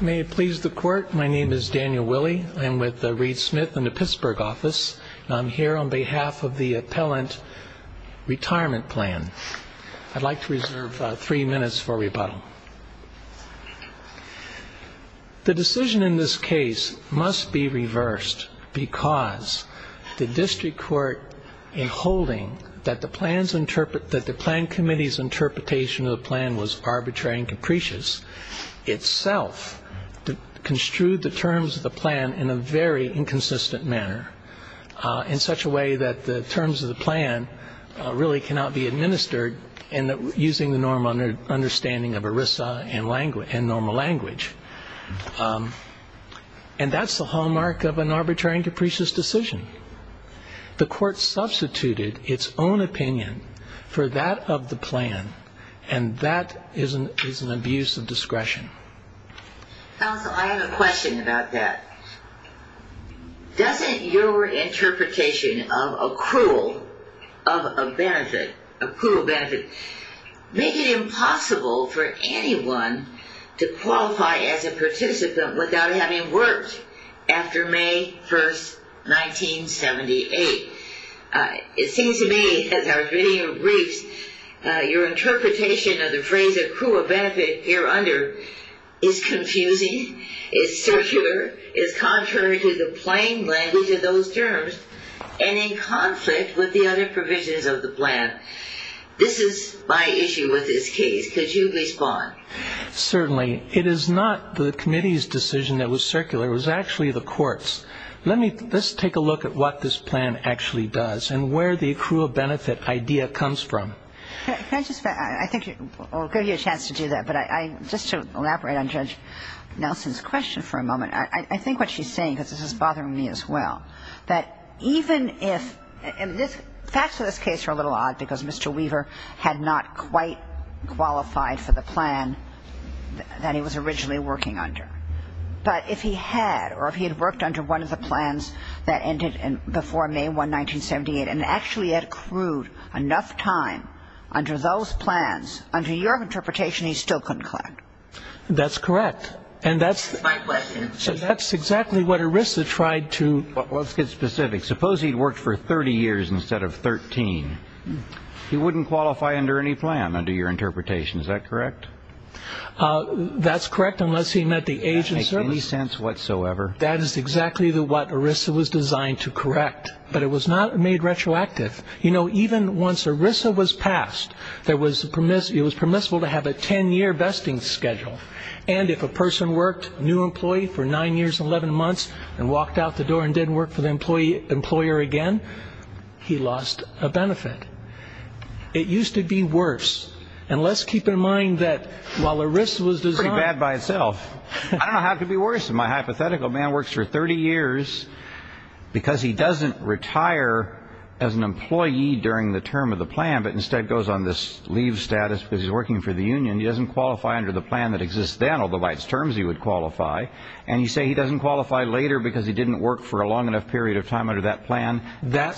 May it please the court. My name is Daniel Willie. I'm with Reed Smith in the Pittsburgh office. I'm here on behalf of the Appellant Retirement Plan. I'd like to reserve three minutes for rebuttal. The decision in this case must be reversed because the district court, in holding that the plan committee's interpretation of the plan was arbitrary and capricious, itself construed the terms of the plan in a very inconsistent manner. In such a way that the terms of the plan really cannot be administered using the normal understanding of ERISA and normal language. And that's the hallmark of an arbitrary and capricious decision. The court substituted its own opinion for that of the plan and that is an abuse of discretion. Counsel, I have a question about that. Doesn't your interpretation of accrual of a benefit, accrual benefit, make it impossible for anyone to qualify as a participant without having worked after May 1st, 1978? It seems to me, as our video briefs, your interpretation of the phrase accrual benefit here under is confusing, is circular, is contrary to the plain language of those terms, and in conflict with the other provisions of the plan. This is my issue with this case. Could you respond? Certainly. It is not the committee's decision that was circular. It was actually the court's. Let's take a look at what this plan actually does and where the accrual benefit idea comes from. I think I'll give you a chance to do that, but just to elaborate on Judge Nelson's question for a moment, I think what she's saying, because this is bothering me as well, that even if, and the facts of this case are a little odd because Mr. Weaver had not quite qualified for the plan that he was originally working under. But if he had, or if he had worked under one of the plans that ended before May 1, 1978, and actually had accrued enough time under those plans, under your interpretation, he still couldn't qualify. That's correct. And that's exactly what ERISA tried to, let's get specific, suppose he'd worked for 30 years instead of 13. He wouldn't qualify under any plan, under your interpretation. Is that correct? That's correct, unless he met the age of service. That makes any sense whatsoever. That is exactly what ERISA was designed to correct. But it was not made retroactive. You know, even once ERISA was passed, it was permissible to have a 10-year vesting schedule. And if a person worked, new employee, for 9 years and 11 months, and walked out the door and didn't work for the employer again, he lost a benefit. It used to be worse. And let's keep in mind that while ERISA was designed... Pretty bad by itself. I don't know how it could be worse. My hypothetical man works for 30 years because he doesn't retire as an employee during the term of the plan, but instead goes on this leave status because he's working for the union. He doesn't qualify under the plan that exists then, although by its terms he would qualify. And you say he doesn't qualify later because he didn't work for a long enough period of time under that plan. That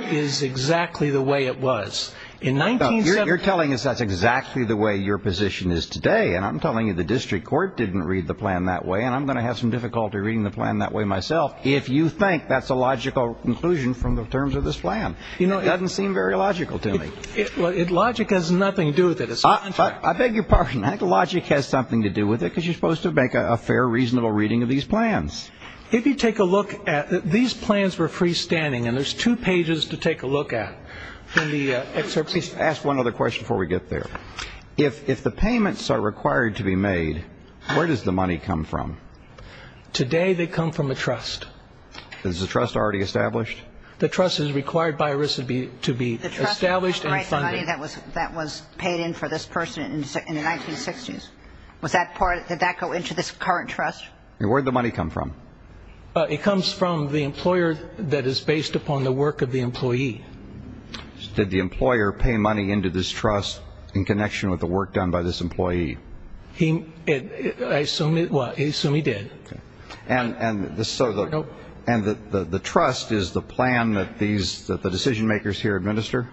is exactly the way it was. You're telling us that's exactly the way your position is today, and I'm telling you the district court didn't read the plan that way, and I'm going to have some difficulty reading the plan that way myself if you think that's a logical conclusion from the terms of this plan. It doesn't seem very logical to me. Logic has nothing to do with it. I beg your pardon. I think logic has something to do with it because you're supposed to make a fair, reasonable reading of these plans. If you take a look at these plans for freestanding, and there's two pages to take a look at in the excerpt. Please ask one other question before we get there. If the payments are required to be made, where does the money come from? Today they come from the trust. Is the trust already established? The trust is required by RISA to be established and funded. The trust was the money that was paid in for this person in the 1960s. Was that part, did that go into this current trust? Where did the money come from? It comes from the employer that is based upon the work of the employee. Did the employer pay money into this trust in connection with the work done by this employee? I assume he did. And the trust is the plan that the decision makers here administer?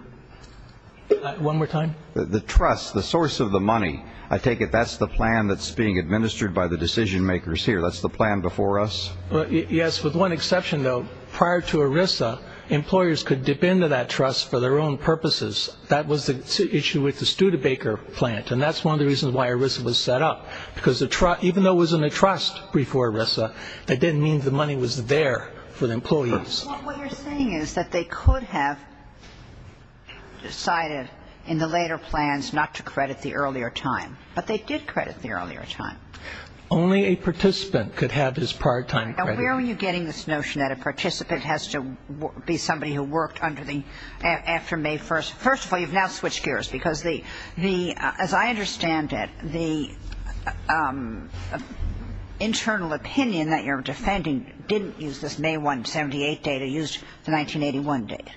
One more time. The trust, the source of the money, I take it that's the plan that's being administered by the decision makers here. That's the plan before us? Yes, with one exception, though. Prior to ERISA, employers could dip into that trust for their own purposes. That was the issue with the Studebaker plant, and that's one of the reasons why ERISA was set up. Because even though it was in a trust before ERISA, that didn't mean the money was there for the employees. Well, what you're saying is that they could have decided in the later plans not to credit the earlier time. But they did credit the earlier time. Only a participant could have this part-time credit. Now, where were you getting this notion that a participant has to be somebody who worked after May 1st? First of all, you've now switched gears. Because, as I understand it, the internal opinion that you're defending didn't use this May 1, 1978 data. It used the 1981 data.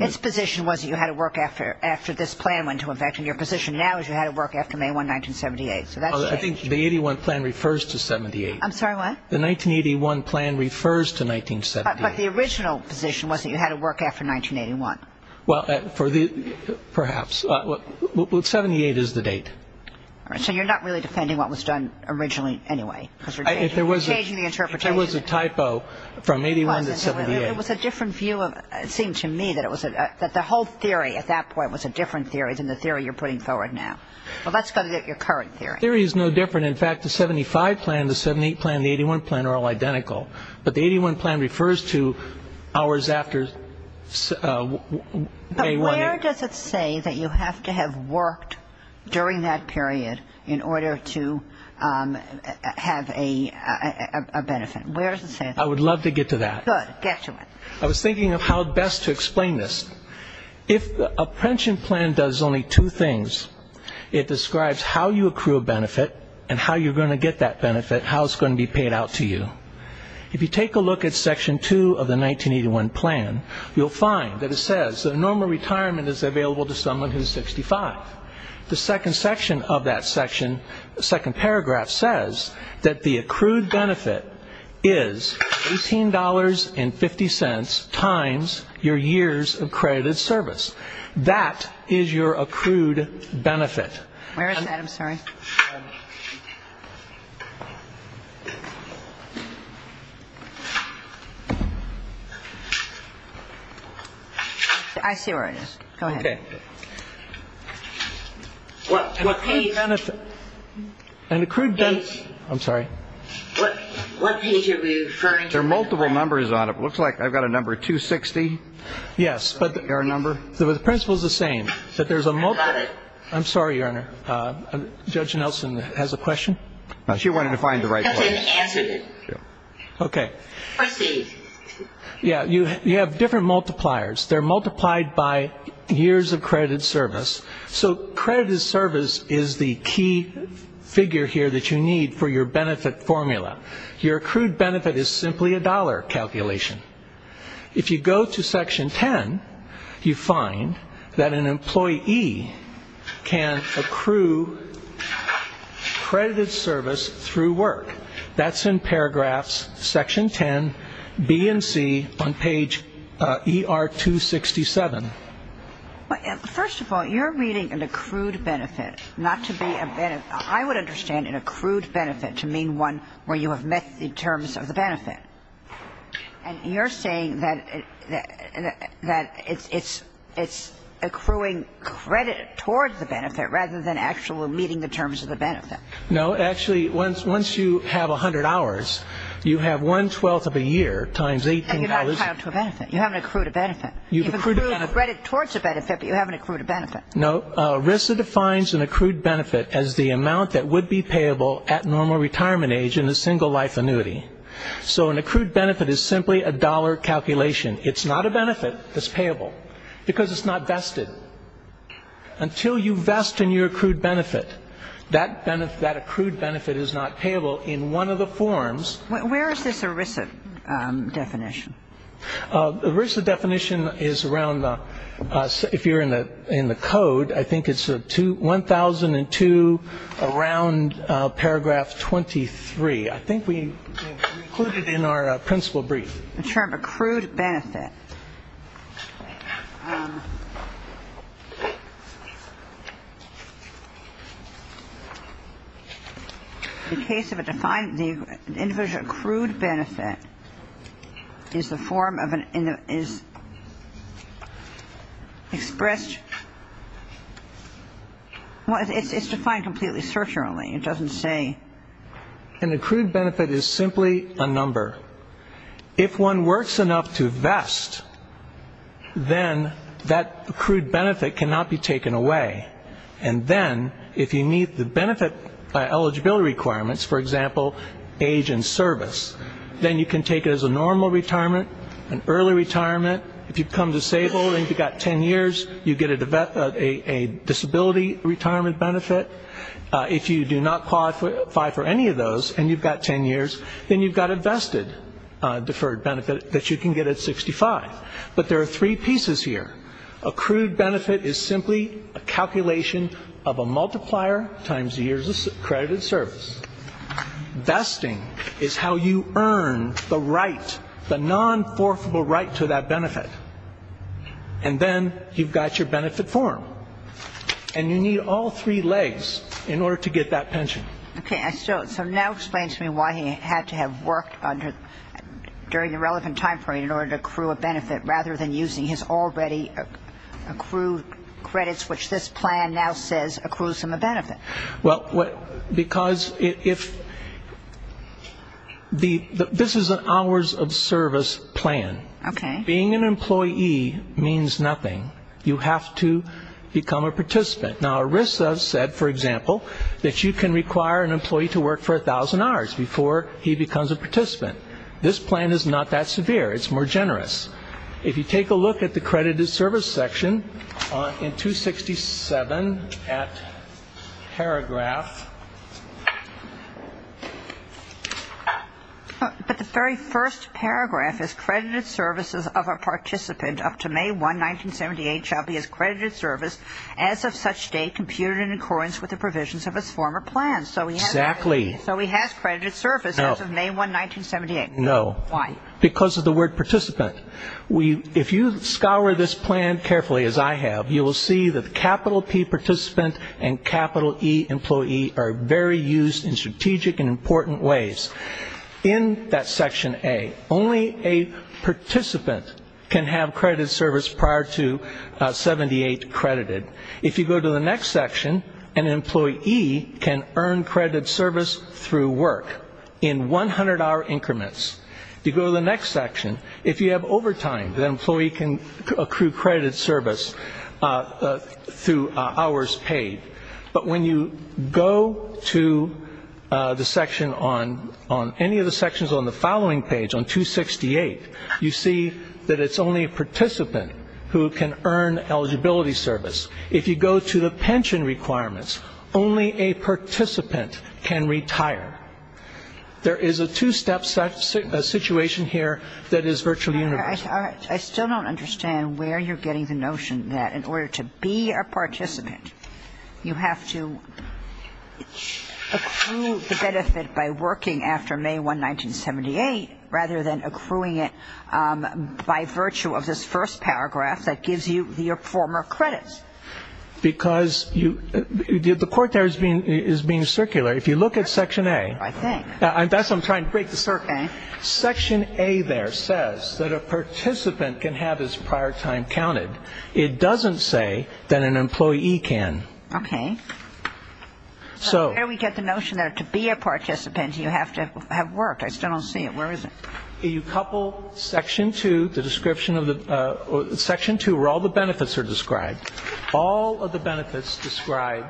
Its position was that you had to work after this plan went into effect, and your position now is you had to work after May 1, 1978. So that's changed. I think the 81 plan refers to 78. I'm sorry, what? The 1981 plan refers to 1978. But the original position was that you had to work after 1981. Well, perhaps. 78 is the date. So you're not really defending what was done originally anyway? You're changing the interpretation. There was a typo from 81 to 78. It was a different view. It seemed to me that the whole theory at that point was a different theory than the theory you're putting forward now. Well, let's go to your current theory. The theory is no different. In fact, the 75 plan, the 78 plan, and the 81 plan are all identical. But the 81 plan refers to hours after May 1. But where does it say that you have to have worked during that period in order to have a benefit? Where does it say that? I would love to get to that. Good. Get to it. I was thinking of how best to explain this. If a pension plan does only two things, if you take a look at Section 2 of the 1981 plan, you'll find that it says that a normal retirement is available to someone who is 65. The second paragraph says that the accrued benefit is $18.50 times your years of credited service. That is your accrued benefit. Where is that? I'm sorry. I see where it is. Go ahead. What? An accrued benefit. I'm sorry. What page are you referring to? There are multiple numbers on it. It looks like I've got a number 260. Yes. Your number. The principle is the same. I got it. I'm sorry, Your Honor. Judge Nelson has a question. She wanted to find the right one. That's why we answered it. Okay. Proceed. Yes. You have different multipliers. They're multiplied by years of credited service. So credited service is the key figure here that you need for your benefit formula. Your accrued benefit is simply a dollar calculation. If you go to Section 10, you find that an employee can accrue credited service through work. That's in paragraphs, Section 10, B and C, on page ER-267. First of all, you're reading an accrued benefit, not to be a benefit. I would understand an accrued benefit to mean one where you have met the terms of the benefit. And you're saying that it's accruing credit towards the benefit rather than actually meeting the terms of the benefit. No. Actually, once you have 100 hours, you have one-twelfth of a year times $18. And you're not tied to a benefit. You haven't accrued a benefit. You've accrued a benefit. You've accrued a credit towards a benefit, but you haven't accrued a benefit. No. RISA defines an accrued benefit as the amount that would be payable at normal retirement age in a single life annuity. So an accrued benefit is simply a dollar calculation. It's not a benefit. It's payable because it's not vested. Until you vest in your accrued benefit, that accrued benefit is not payable in one of the forms. Where is this RISA definition? The RISA definition is around, if you're in the code, I think it's 1002, around paragraph 23. I think we include it in our principle brief. The term accrued benefit. In the case of a defined individual, an accrued benefit is the form of an individual expressed. Well, it's defined completely surgurally. It doesn't say. An accrued benefit is simply a number. If one works enough to vest, then that accrued benefit cannot be taken away. And then if you meet the benefit eligibility requirements, for example, age and service, then you can take it as a normal retirement, an early retirement. If you become disabled and you've got ten years, you get a disability retirement benefit. If you do not qualify for any of those and you've got ten years, then you've got a vested deferred benefit that you can get at 65. But there are three pieces here. Accrued benefit is simply a calculation of a multiplier times the years of accredited service. Vesting is how you earn the right, the non-forfeitable right to that benefit. And then you've got your benefit form. And you need all three legs in order to get that pension. Okay. So now explain to me why he had to have worked during the relevant time frame in order to accrue a benefit rather than using his already accrued credits, which this plan now says accrues him a benefit. Well, because if the this is an hours of service plan. Okay. Being an employee means nothing. You have to become a participant. Now, ERISA said, for example, that you can require an employee to work for 1,000 hours before he becomes a participant. This plan is not that severe. It's more generous. If you take a look at the credited service section in 267 paragraph. But the very first paragraph is credited services of a participant up to May 1, 1978, shall be as credited service as of such date computed in accordance with the provisions of his former plan. Exactly. So he has credited service as of May 1, 1978. No. Why? Because of the word participant. If you scour this plan carefully, as I have, you will see that capital P participant and capital E employee are very used in strategic and important ways. In that section A, only a participant can have credited service prior to 78 credited. If you go to the next section, an employee can earn credited service through work in 100-hour increments. If you go to the next section, if you have overtime, the employee can accrue credited service through hours paid. But when you go to the section on any of the sections on the following page, on 268, you see that it's only a participant who can earn eligibility service. If you go to the pension requirements, only a participant can retire. There is a two-step situation here that is virtually universal. I still don't understand where you're getting the notion that in order to be a participant, you have to accrue the benefit by working after May 1, 1978, rather than accruing it by virtue of this first paragraph that gives you your former credits. Because the court there is being circular. If you look at section A. I think. That's what I'm trying to break. Section A there says that a participant can have his prior time counted. It doesn't say that an employee can. Okay. So here we get the notion that to be a participant, you have to have worked. I still don't see it. Where is it? You couple section 2, the description of the section 2, where all the benefits are described. All of the benefits describe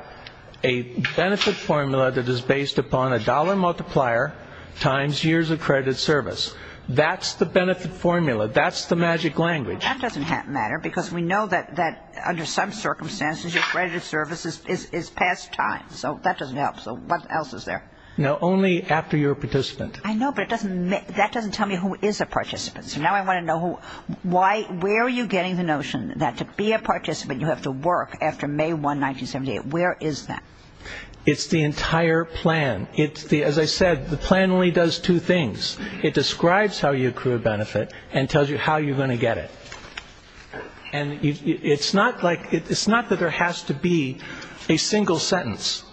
a benefit formula that is based upon a dollar multiplier times years of credit service. That's the benefit formula. That's the magic language. That doesn't matter because we know that under some circumstances, your credit service is past time. So that doesn't help. So what else is there? Now, only after you're a participant. I know, but that doesn't tell me who is a participant. So now I want to know, where are you getting the notion that to be a participant, you have to work after May 1, 1978? Where is that? It's the entire plan. As I said, the plan only does two things. It describes how you accrue a benefit and tells you how you're going to get it. And it's not that there has to be a single sentence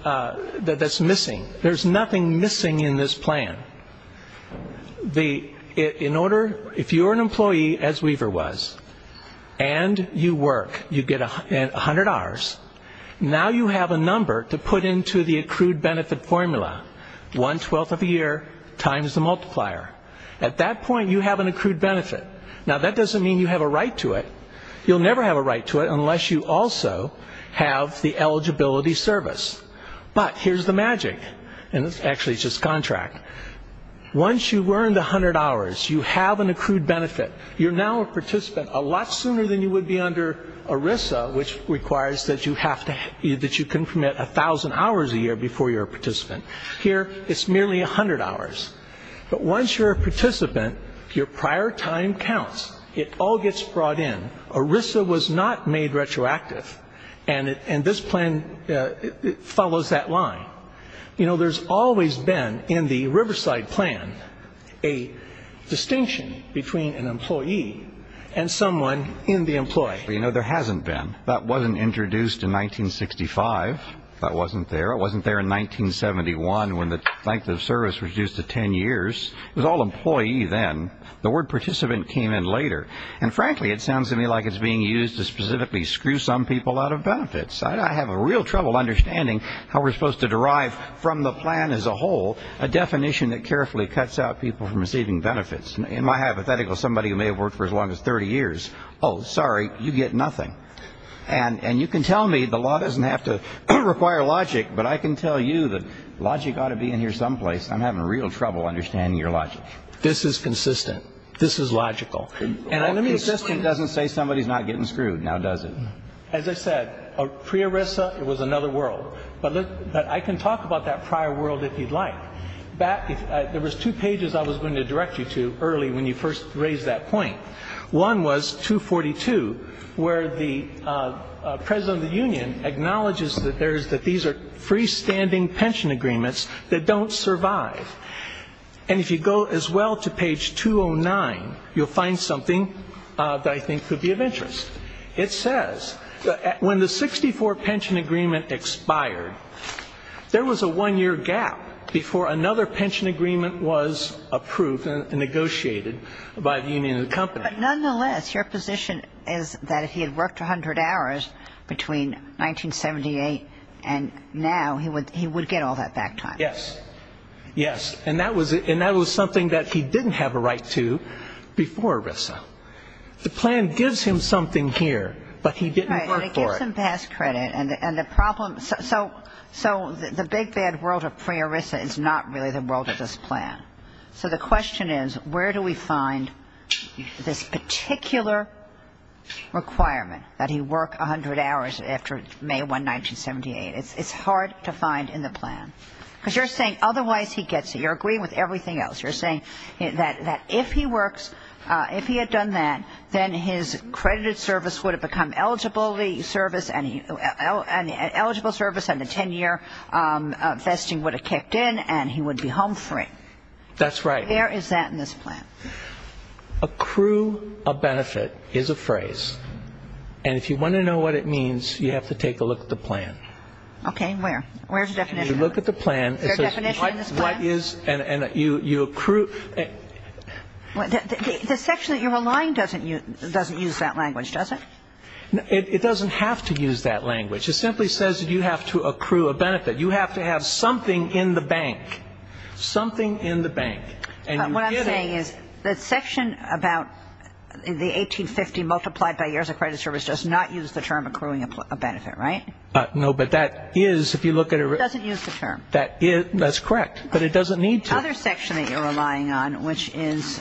that's missing. There's nothing missing in this plan. If you're an employee, as Weaver was, and you work, you get 100 hours, now you have a number to put into the accrued benefit formula, 1 twelfth of a year times the multiplier. At that point, you have an accrued benefit. Now, that doesn't mean you have a right to it. You'll never have a right to it unless you also have the eligibility service. But here's the magic, and actually it's just contract. Once you've earned 100 hours, you have an accrued benefit. You're now a participant a lot sooner than you would be under ERISA, which requires that you can permit 1,000 hours a year before you're a participant. Here, it's merely 100 hours. But once you're a participant, your prior time counts. It all gets brought in. ERISA was not made retroactive, and this plan follows that line. You know, there's always been in the Riverside plan a distinction between an employee and someone in the employee. You know, there hasn't been. That wasn't introduced in 1965. That wasn't there. It wasn't there in 1971 when the length of service was reduced to 10 years. It was all employee then. The word participant came in later. And frankly, it sounds to me like it's being used to specifically screw some people out of benefits. I have real trouble understanding how we're supposed to derive from the plan as a whole a definition that carefully cuts out people from receiving benefits. In my hypothetical, somebody who may have worked for as long as 30 years, oh, sorry, you get nothing. And you can tell me the law doesn't have to require logic, but I can tell you that logic ought to be in here someplace. I'm having real trouble understanding your logic. This is consistent. This is logical. And consistent doesn't say somebody's not getting screwed, now does it? As I said, pre-ERISA, it was another world. But I can talk about that prior world if you'd like. There was two pages I was going to direct you to early when you first raised that point. One was 242, where the president of the union acknowledges that these are freestanding pension agreements that don't survive. And if you go as well to page 209, you'll find something that I think could be of interest. It says, when the 64 pension agreement expired, there was a one-year gap before another pension agreement was approved and negotiated by the union and the company. But nonetheless, your position is that if he had worked 100 hours between 1978 and now, he would get all that back time. Yes. Yes. And that was something that he didn't have a right to before ERISA. The plan gives him something here, but he didn't work for it. Right. Well, it gives him past credit. And the problem so the big bad world of pre-ERISA is not really the world of this plan. So the question is, where do we find this particular requirement that he work 100 hours after May 1, 1978? It's hard to find in the plan. Because you're saying otherwise he gets it. You're agreeing with everything else. You're saying that if he works, if he had done that, then his credited service would have become eligible service and the 10-year vesting would have kicked in and he would be home free. That's right. Where is that in this plan? Accrue a benefit is a phrase. And if you want to know what it means, you have to take a look at the plan. Okay. Where? Where's the definition? If you look at the plan, it says what is and you accrue. The section that you're relying doesn't use that language, does it? It doesn't have to use that language. It simply says that you have to accrue a benefit. You have to have something in the bank. Something in the bank. What I'm saying is that section about the 1850 multiplied by years of credited service does not use the term accruing a benefit, right? No, but that is if you look at it. It doesn't use the term. That's correct. But it doesn't need to. The other section that you're relying on, which is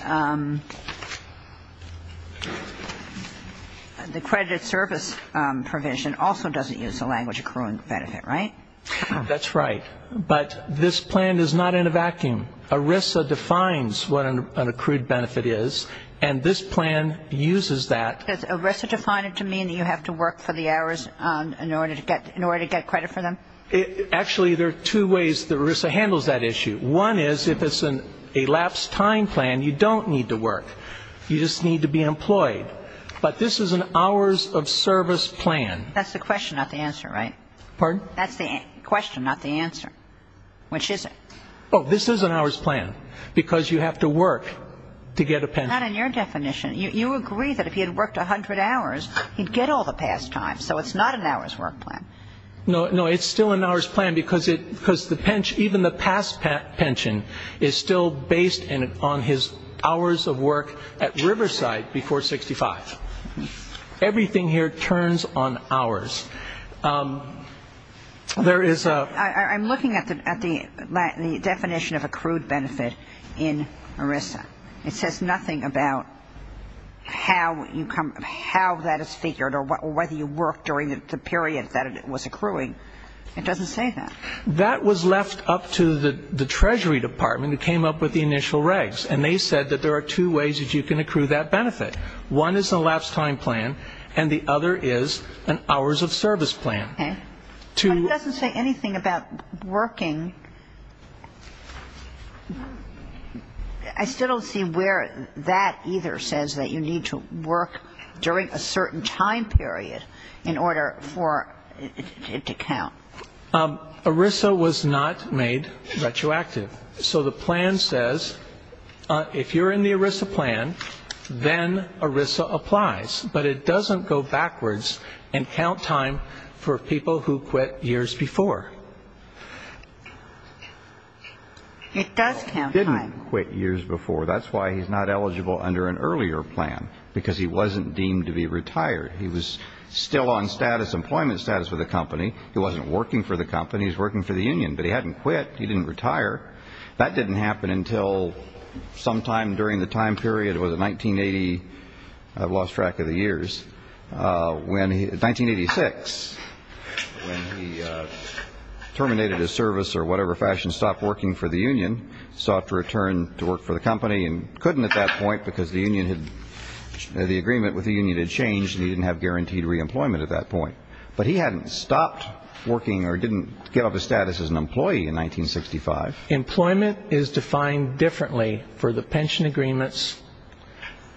the credited service provision, also doesn't use the language accruing benefit, right? That's right. But this plan is not in a vacuum. ERISA defines what an accrued benefit is, and this plan uses that. Does ERISA define it to mean that you have to work for the hours in order to get credit for them? Actually, there are two ways that ERISA handles that issue. One is if it's an elapsed time plan, you don't need to work. You just need to be employed. But this is an hours of service plan. That's the question, not the answer, right? Pardon? That's the question, not the answer. Which is it? Oh, this is an hours plan because you have to work to get a pension. Not in your definition. You agree that if he had worked 100 hours, he'd get all the past time. So it's not an hours work plan. No, it's still an hours plan because even the past pension is still based on his hours of work at Riverside before 65. Everything here turns on hours. I'm looking at the definition of accrued benefit in ERISA. It says nothing about how that is figured or whether you work during the period that it was accruing. It doesn't say that. That was left up to the Treasury Department who came up with the initial regs, and they said that there are two ways that you can accrue that benefit. One is an elapsed time plan, and the other is an hours of service plan. Okay. But it doesn't say anything about working. I still don't see where that either says that you need to work during a certain time period in order for it to count. ERISA was not made retroactive. So the plan says if you're in the ERISA plan, then ERISA applies, but it doesn't go backwards and count time for people who quit years before. It does count time. He didn't quit years before. That's why he's not eligible under an earlier plan, because he wasn't deemed to be retired. He was still on employment status with the company. He wasn't working for the company. He was working for the union, but he hadn't quit. He didn't retire. That didn't happen until sometime during the time period. It was in 1980. I've lost track of the years. In 1986, when he terminated his service or whatever fashion, stopped working for the union, sought to return to work for the company and couldn't at that point because the agreement with the union had changed and he didn't have guaranteed reemployment at that point. But he hadn't stopped working or didn't get up to status as an employee in 1965. Employment is defined differently for the pension agreements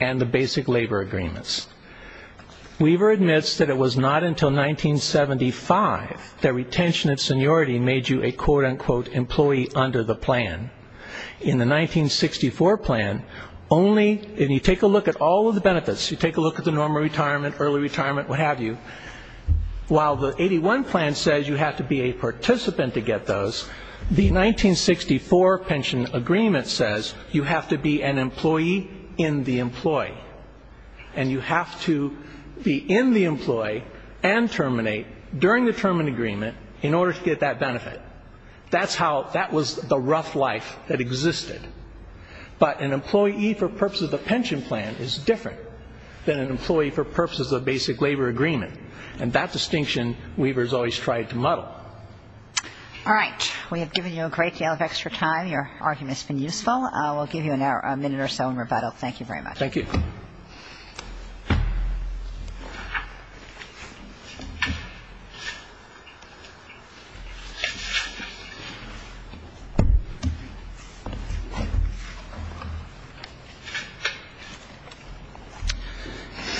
and the basic labor agreements. Weaver admits that it was not until 1975 that retention and seniority made you a, quote, unquote, employee under the plan. In the 1964 plan, only if you take a look at all of the benefits, you take a look at the normal retirement, early retirement, what have you, while the 81 plan says you have to be a participant to get those, the 1964 pension agreement says you have to be an employee in the employee and you have to be in the employee and terminate during the term agreement in order to get that benefit. That was the rough life that existed. But an employee for purposes of the pension plan is different than an employee for purposes of basic labor agreement. And that distinction, Weaver has always tried to muddle. All right. We have given you a great deal of extra time. Your argument has been useful. We'll give you a minute or so in rebuttal. Thank you very much. Thank you.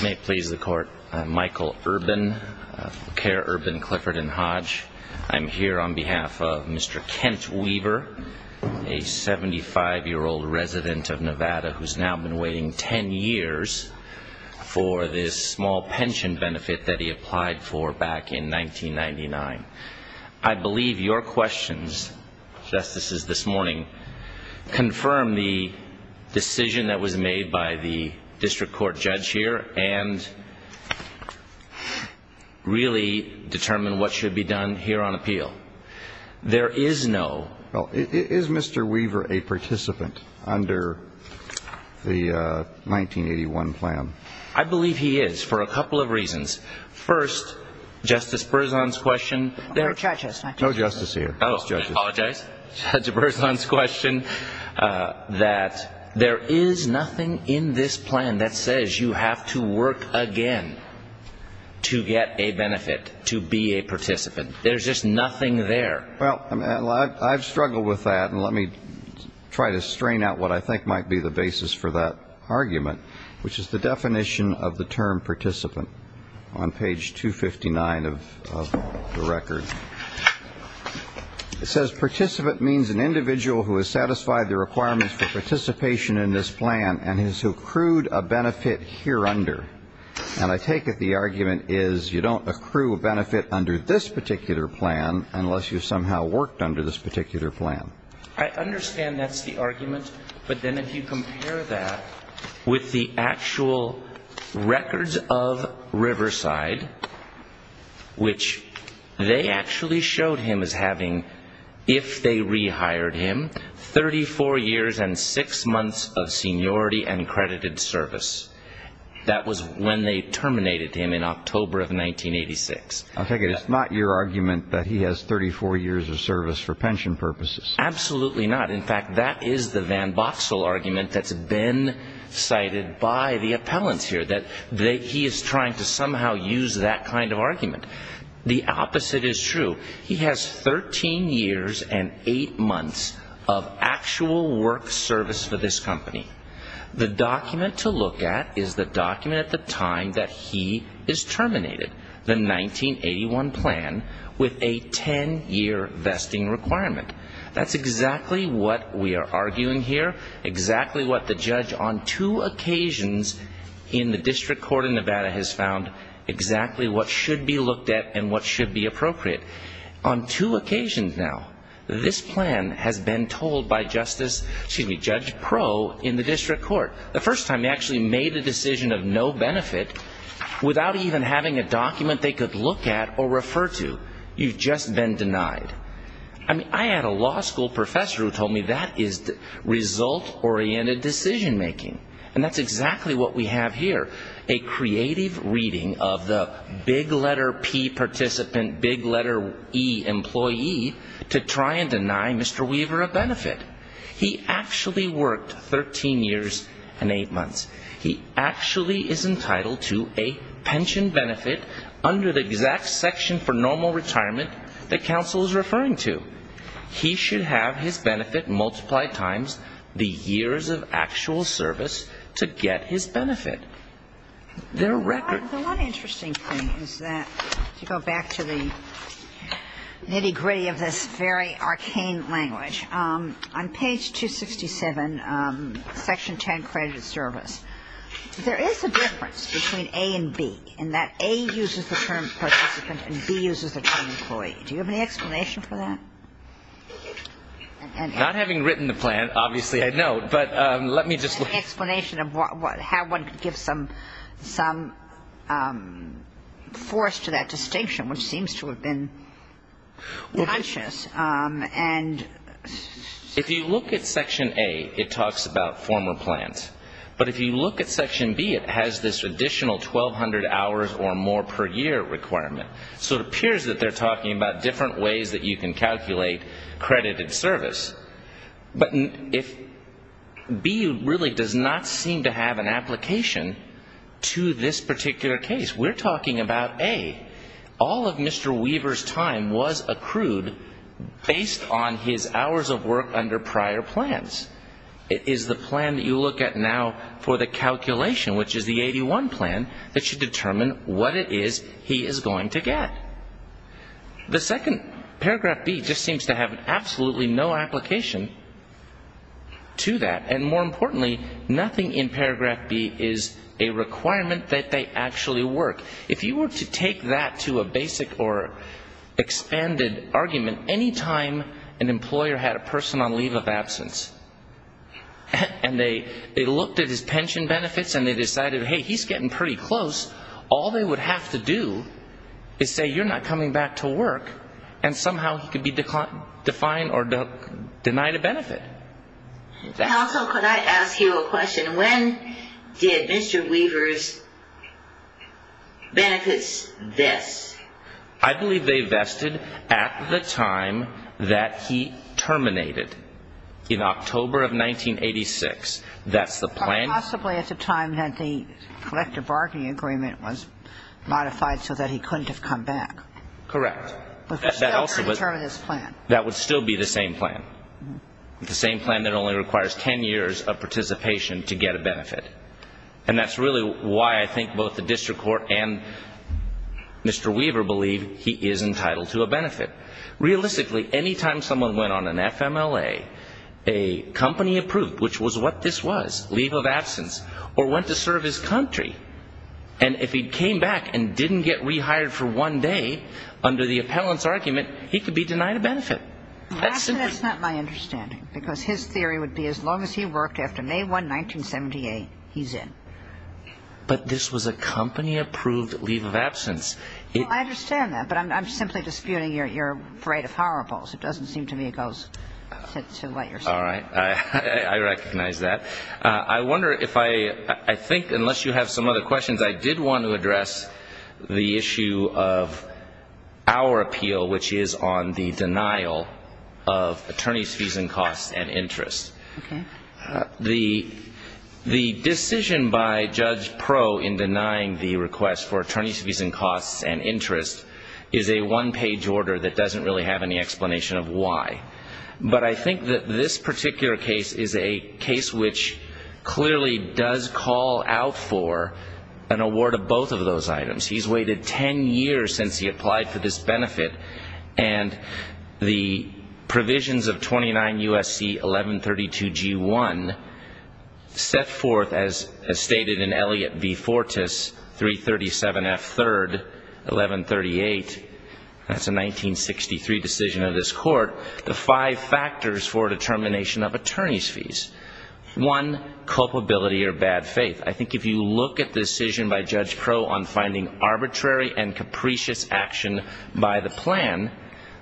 May it please the Court. I'm Michael Urban, Care Urban Clifford and Hodge. I'm here on behalf of Mr. Kent Weaver, a 75-year-old resident of Nevada who's now been waiting 10 years for this small pension benefit that he applied for back in 1999. I believe your questions, Justices, this morning confirm the decision that was made by the district court judge here and really determine what should be done here on appeal. There is no. Is Mr. Weaver a participant under the 1981 plan? First, Justice Berzon's question. There are judges. No justice here. Oh, I apologize. Judge Berzon's question that there is nothing in this plan that says you have to work again to get a benefit, to be a participant. There's just nothing there. Well, I've struggled with that, and let me try to strain out what I think might be the basis for that argument, which is the definition of the term participant on page 259 of the record. It says participant means an individual who has satisfied the requirements for participation in this plan and has accrued a benefit here under. And I take it the argument is you don't accrue a benefit under this particular plan unless you somehow worked under this particular plan. I understand that's the argument, but then if you compare that with the actual records of Riverside, which they actually showed him as having, if they rehired him, 34 years and six months of seniority and credited service. That was when they terminated him in October of 1986. I take it it's not your argument that he has 34 years of service for pension purposes. Absolutely not. In fact, that is the Van Boxel argument that's been cited by the appellants here, that he is trying to somehow use that kind of argument. The opposite is true. He has 13 years and eight months of actual work service for this company. The document to look at is the document at the time that he is terminated, the 1981 plan, with a 10-year vesting requirement. That's exactly what we are arguing here, exactly what the judge on two occasions in the district court in Nevada has found exactly what should be looked at and what should be appropriate. On two occasions now, this plan has been told by Justice, excuse me, Judge Pro in the district court. The first time they actually made a decision of no benefit without even having a document they could look at or refer to. You've just been denied. I mean, I had a law school professor who told me that is result-oriented decision making. And that's exactly what we have here, a creative reading of the big letter P participant, big letter E employee, to try and deny Mr. Weaver a benefit. He actually worked 13 years and eight months. He actually is entitled to a pension benefit under the exact section for normal retirement that counsel is referring to. He should have his benefit multiplied times the years of actual service to get his benefit. There are records. The one interesting thing is that, to go back to the nitty-gritty of this very arcane language, on page 267, section 10, credited service, there is a difference between A and B, in that A uses the term participant and B uses the term employee. Do you have any explanation for that? Not having written the plan, obviously, I know, but let me just look. Do you have any explanation of how one could give some force to that distinction, which seems to have been conscious? If you look at section A, it talks about former plans. But if you look at section B, it has this additional 1,200 hours or more per year requirement. So it appears that they're talking about different ways that you can calculate credited service. But if B really does not seem to have an application to this particular case, we're talking about A. All of Mr. Weaver's time was accrued based on his hours of work under prior plans. It is the plan that you look at now for the calculation, which is the 81 plan, that should determine what it is he is going to get. The second, paragraph B, just seems to have absolutely no application to that. And more importantly, nothing in paragraph B is a requirement that they actually work. If you were to take that to a basic or expanded argument, any time an employer had a person on leave of absence and they looked at his pension benefits and they decided, hey, he's getting pretty close, all they would have to do is say, you're not coming back to work, and somehow he could be defined or denied a benefit. Also, could I ask you a question? When did Mr. Weaver's benefits vest? I believe they vested at the time that he terminated, in October of 1986. That's the plan. Possibly at the time that the collective bargaining agreement was modified so that he couldn't have come back. Correct. That would still be the same plan. The same plan that only requires 10 years of participation to get a benefit. And that's really why I think both the district court and Mr. Weaver believe he is entitled to a benefit. Realistically, any time someone went on an FMLA, a company approved, which was what this was, leave of absence, or went to serve his country, and if he came back and didn't get rehired for one day, under the appellant's argument, he could be denied a benefit. That's not my understanding, because his theory would be as long as he worked after May 1, 1978, he's in. But this was a company approved leave of absence. I understand that, but I'm simply disputing your right of horribles. It doesn't seem to me it goes to what you're saying. All right. I recognize that. I wonder if I think, unless you have some other questions, I did want to address the issue of our appeal, which is on the denial of attorney's fees and costs and interest. Okay. The decision by Judge Pro in denying the request for attorney's fees and costs and interest is a one-page order that doesn't really have any explanation of why. But I think that this particular case is a case which clearly does call out for an award of both of those items. He's waited 10 years since he applied for this benefit, and the provisions of 29 U.S.C. 1132 G.1 set forth, as stated in Elliott v. Fortas, 337 F. 3rd, 1138. That's a 1963 decision of this Court. The five factors for determination of attorney's fees. One, culpability or bad faith. I think if you look at the decision by Judge Pro on finding arbitrary and capricious action by the plan,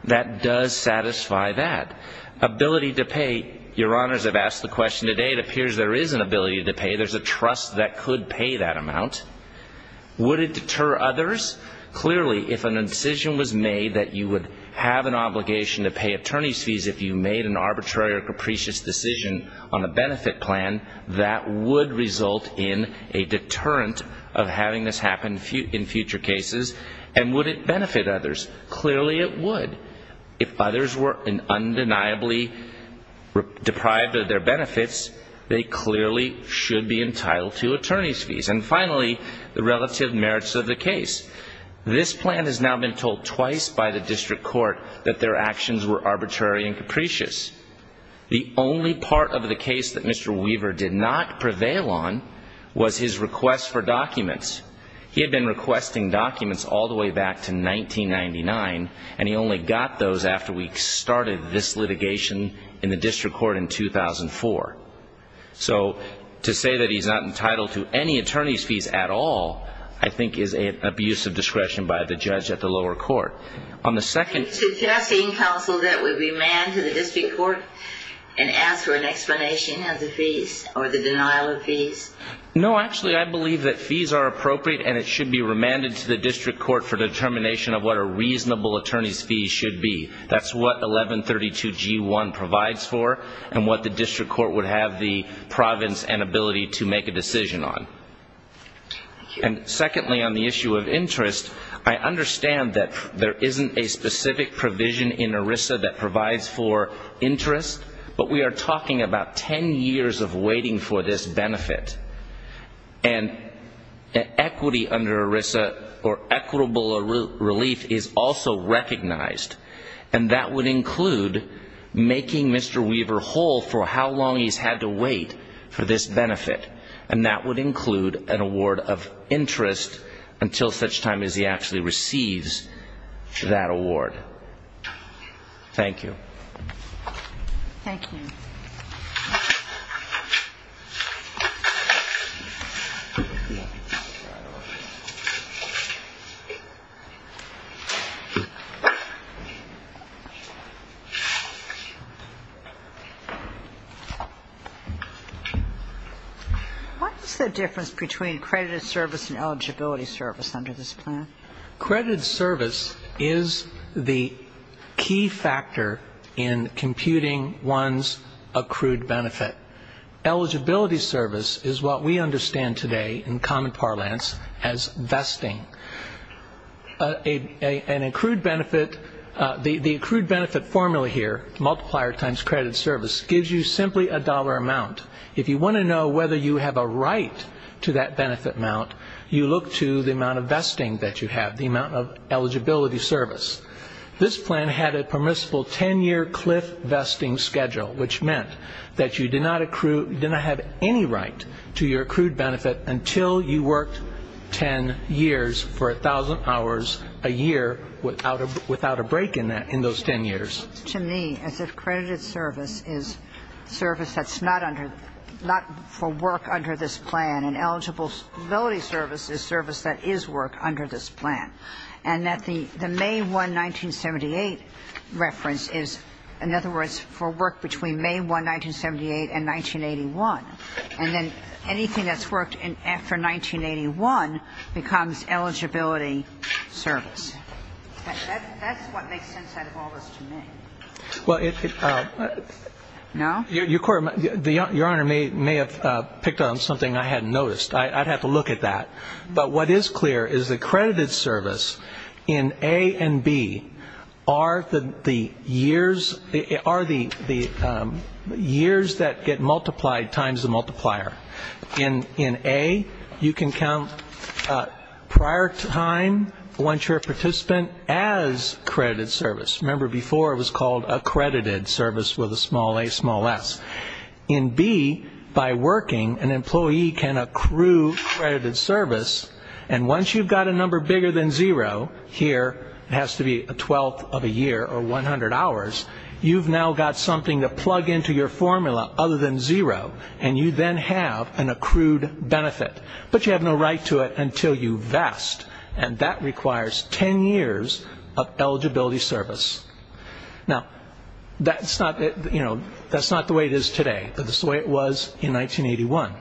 that does satisfy that. Ability to pay. Your Honors, I've asked the question today. It appears there is an ability to pay. There's a trust that could pay that amount. Would it deter others? Clearly, if an incision was made that you would have an obligation to pay attorney's fees if you made an arbitrary or capricious decision on a benefit plan, that would result in a deterrent of having this happen in future cases. And would it benefit others? Clearly it would. If others were undeniably deprived of their benefits, they clearly should be entitled to attorney's fees. And finally, the relative merits of the case. This plan has now been told twice by the District Court that their actions were arbitrary and capricious. The only part of the case that Mr. Weaver did not prevail on was his request for documents. He had been requesting documents all the way back to 1999, and he only got those after we started this litigation in the District Court in 2004. So to say that he's not entitled to any attorney's fees at all, I think is an abuse of discretion by the judge at the lower court. On the second- Suggesting, counsel, that we remand to the District Court and ask for an explanation of the fees or the denial of fees? No, actually, I believe that fees are appropriate and it should be remanded to the District Court for determination of what a reasonable attorney's fee should be. That's what 1132G1 provides for and what the District Court would have the providence and ability to make a decision on. And secondly, on the issue of interest, I understand that there isn't a specific provision in ERISA that provides for interest, but we are talking about 10 years of waiting for this benefit. And equity under ERISA or equitable relief is also recognized, and that would include making Mr. Weaver whole for how long he's had to wait for this benefit, and that would include an award of interest until such time as he actually receives that award. Thank you. Thank you. What is the difference between credited service and eligibility service under this plan? Credited service is the key factor in computing one's accrued benefit. Eligibility service is what we understand today in common parlance as vesting. An accrued benefit, the accrued benefit formula here, multiplier times credited service, gives you simply a dollar amount. If you want to know whether you have a right to that benefit amount, you look to the amount of vesting that you have, the amount of eligibility service. This plan had a permissible 10-year cliff vesting schedule, which meant that you did not have any right to your accrued benefit until you worked 10 years for 1,000 hours a year without a break in those 10 years. To me, as if credited service is service that's not for work under this plan, and eligibility service is service that is work under this plan, and that the May 1, 1978 reference is, in other words, for work between May 1, 1978 and 1981. And then anything that's worked after 1981 becomes eligibility service. That's what makes sense out of all this to me. Well, it's the – No? Your Honor may have picked on something I hadn't noticed. I'd have to look at that. But what is clear is that credited service in A and B are the years that get multiplied times the multiplier. In A, you can count prior time once you're a participant as credited service. Remember before it was called accredited service with a small a, small s. In B, by working, an employee can accrue credited service, and once you've got a number bigger than zero, here it has to be a twelfth of a year or 100 hours, you've now got something to plug into your formula other than zero, and you then have an accrued benefit. But you have no right to it until you vest, and that requires 10 years of eligibility service. Now, that's not the way it is today, but it's the way it was in 1981.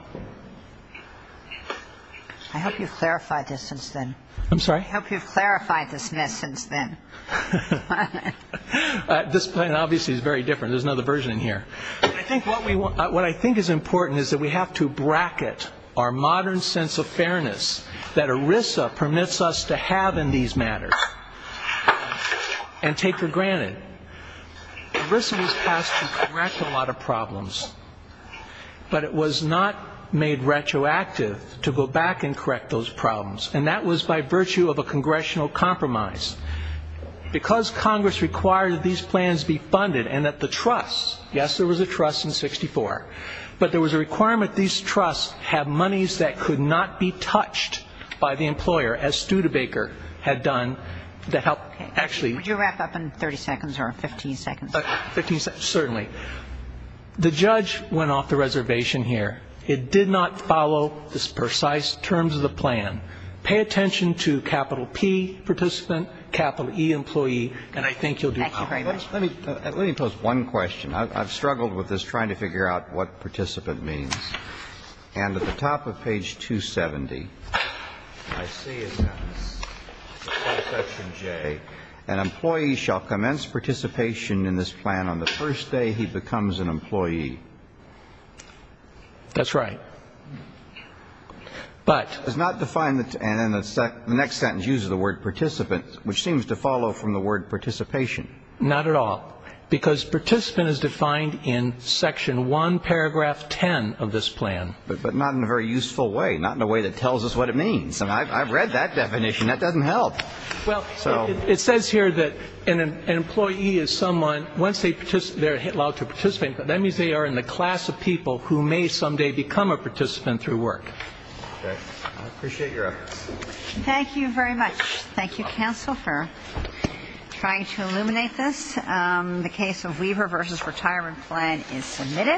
I hope you've clarified this since then. I'm sorry? I hope you've clarified this since then. This plan obviously is very different. There's another version in here. What I think is important is that we have to bracket our modern sense of fairness that ERISA permits us to have in these matters and take for granted. ERISA was passed to correct a lot of problems, but it was not made retroactive to go back and correct those problems, and that was by virtue of a congressional compromise. Because Congress required that these plans be funded and that the trusts, yes, there was a trust in 64, but there was a requirement these trusts have monies that could not be touched by the employer, as Studebaker had done, that helped actually. Would you wrap up in 30 seconds or 15 seconds? 15 seconds, certainly. The judge went off the reservation here. It did not follow the precise terms of the plan. Pay attention to capital P, participant, capital E, employee, and I think you'll do fine. Let me pose one question. I've struggled with this trying to figure out what participant means. And at the top of page 270, I see it now, section J, an employee shall commence participation in this plan on the first day he becomes an employee. That's right. But the next sentence uses the word participant, which seems to follow from the word participation. Not at all, because participant is defined in section 1, paragraph 10 of this plan. But not in a very useful way, not in a way that tells us what it means. I've read that definition. That doesn't help. Well, it says here that an employee is someone, once they're allowed to participate, that means they are in the class of people who may someday become a participant through work. Okay. I appreciate your efforts. Thank you very much. Thank you, counsel, for trying to illuminate this. The case of Weaver v. Retirement Plan is submitted.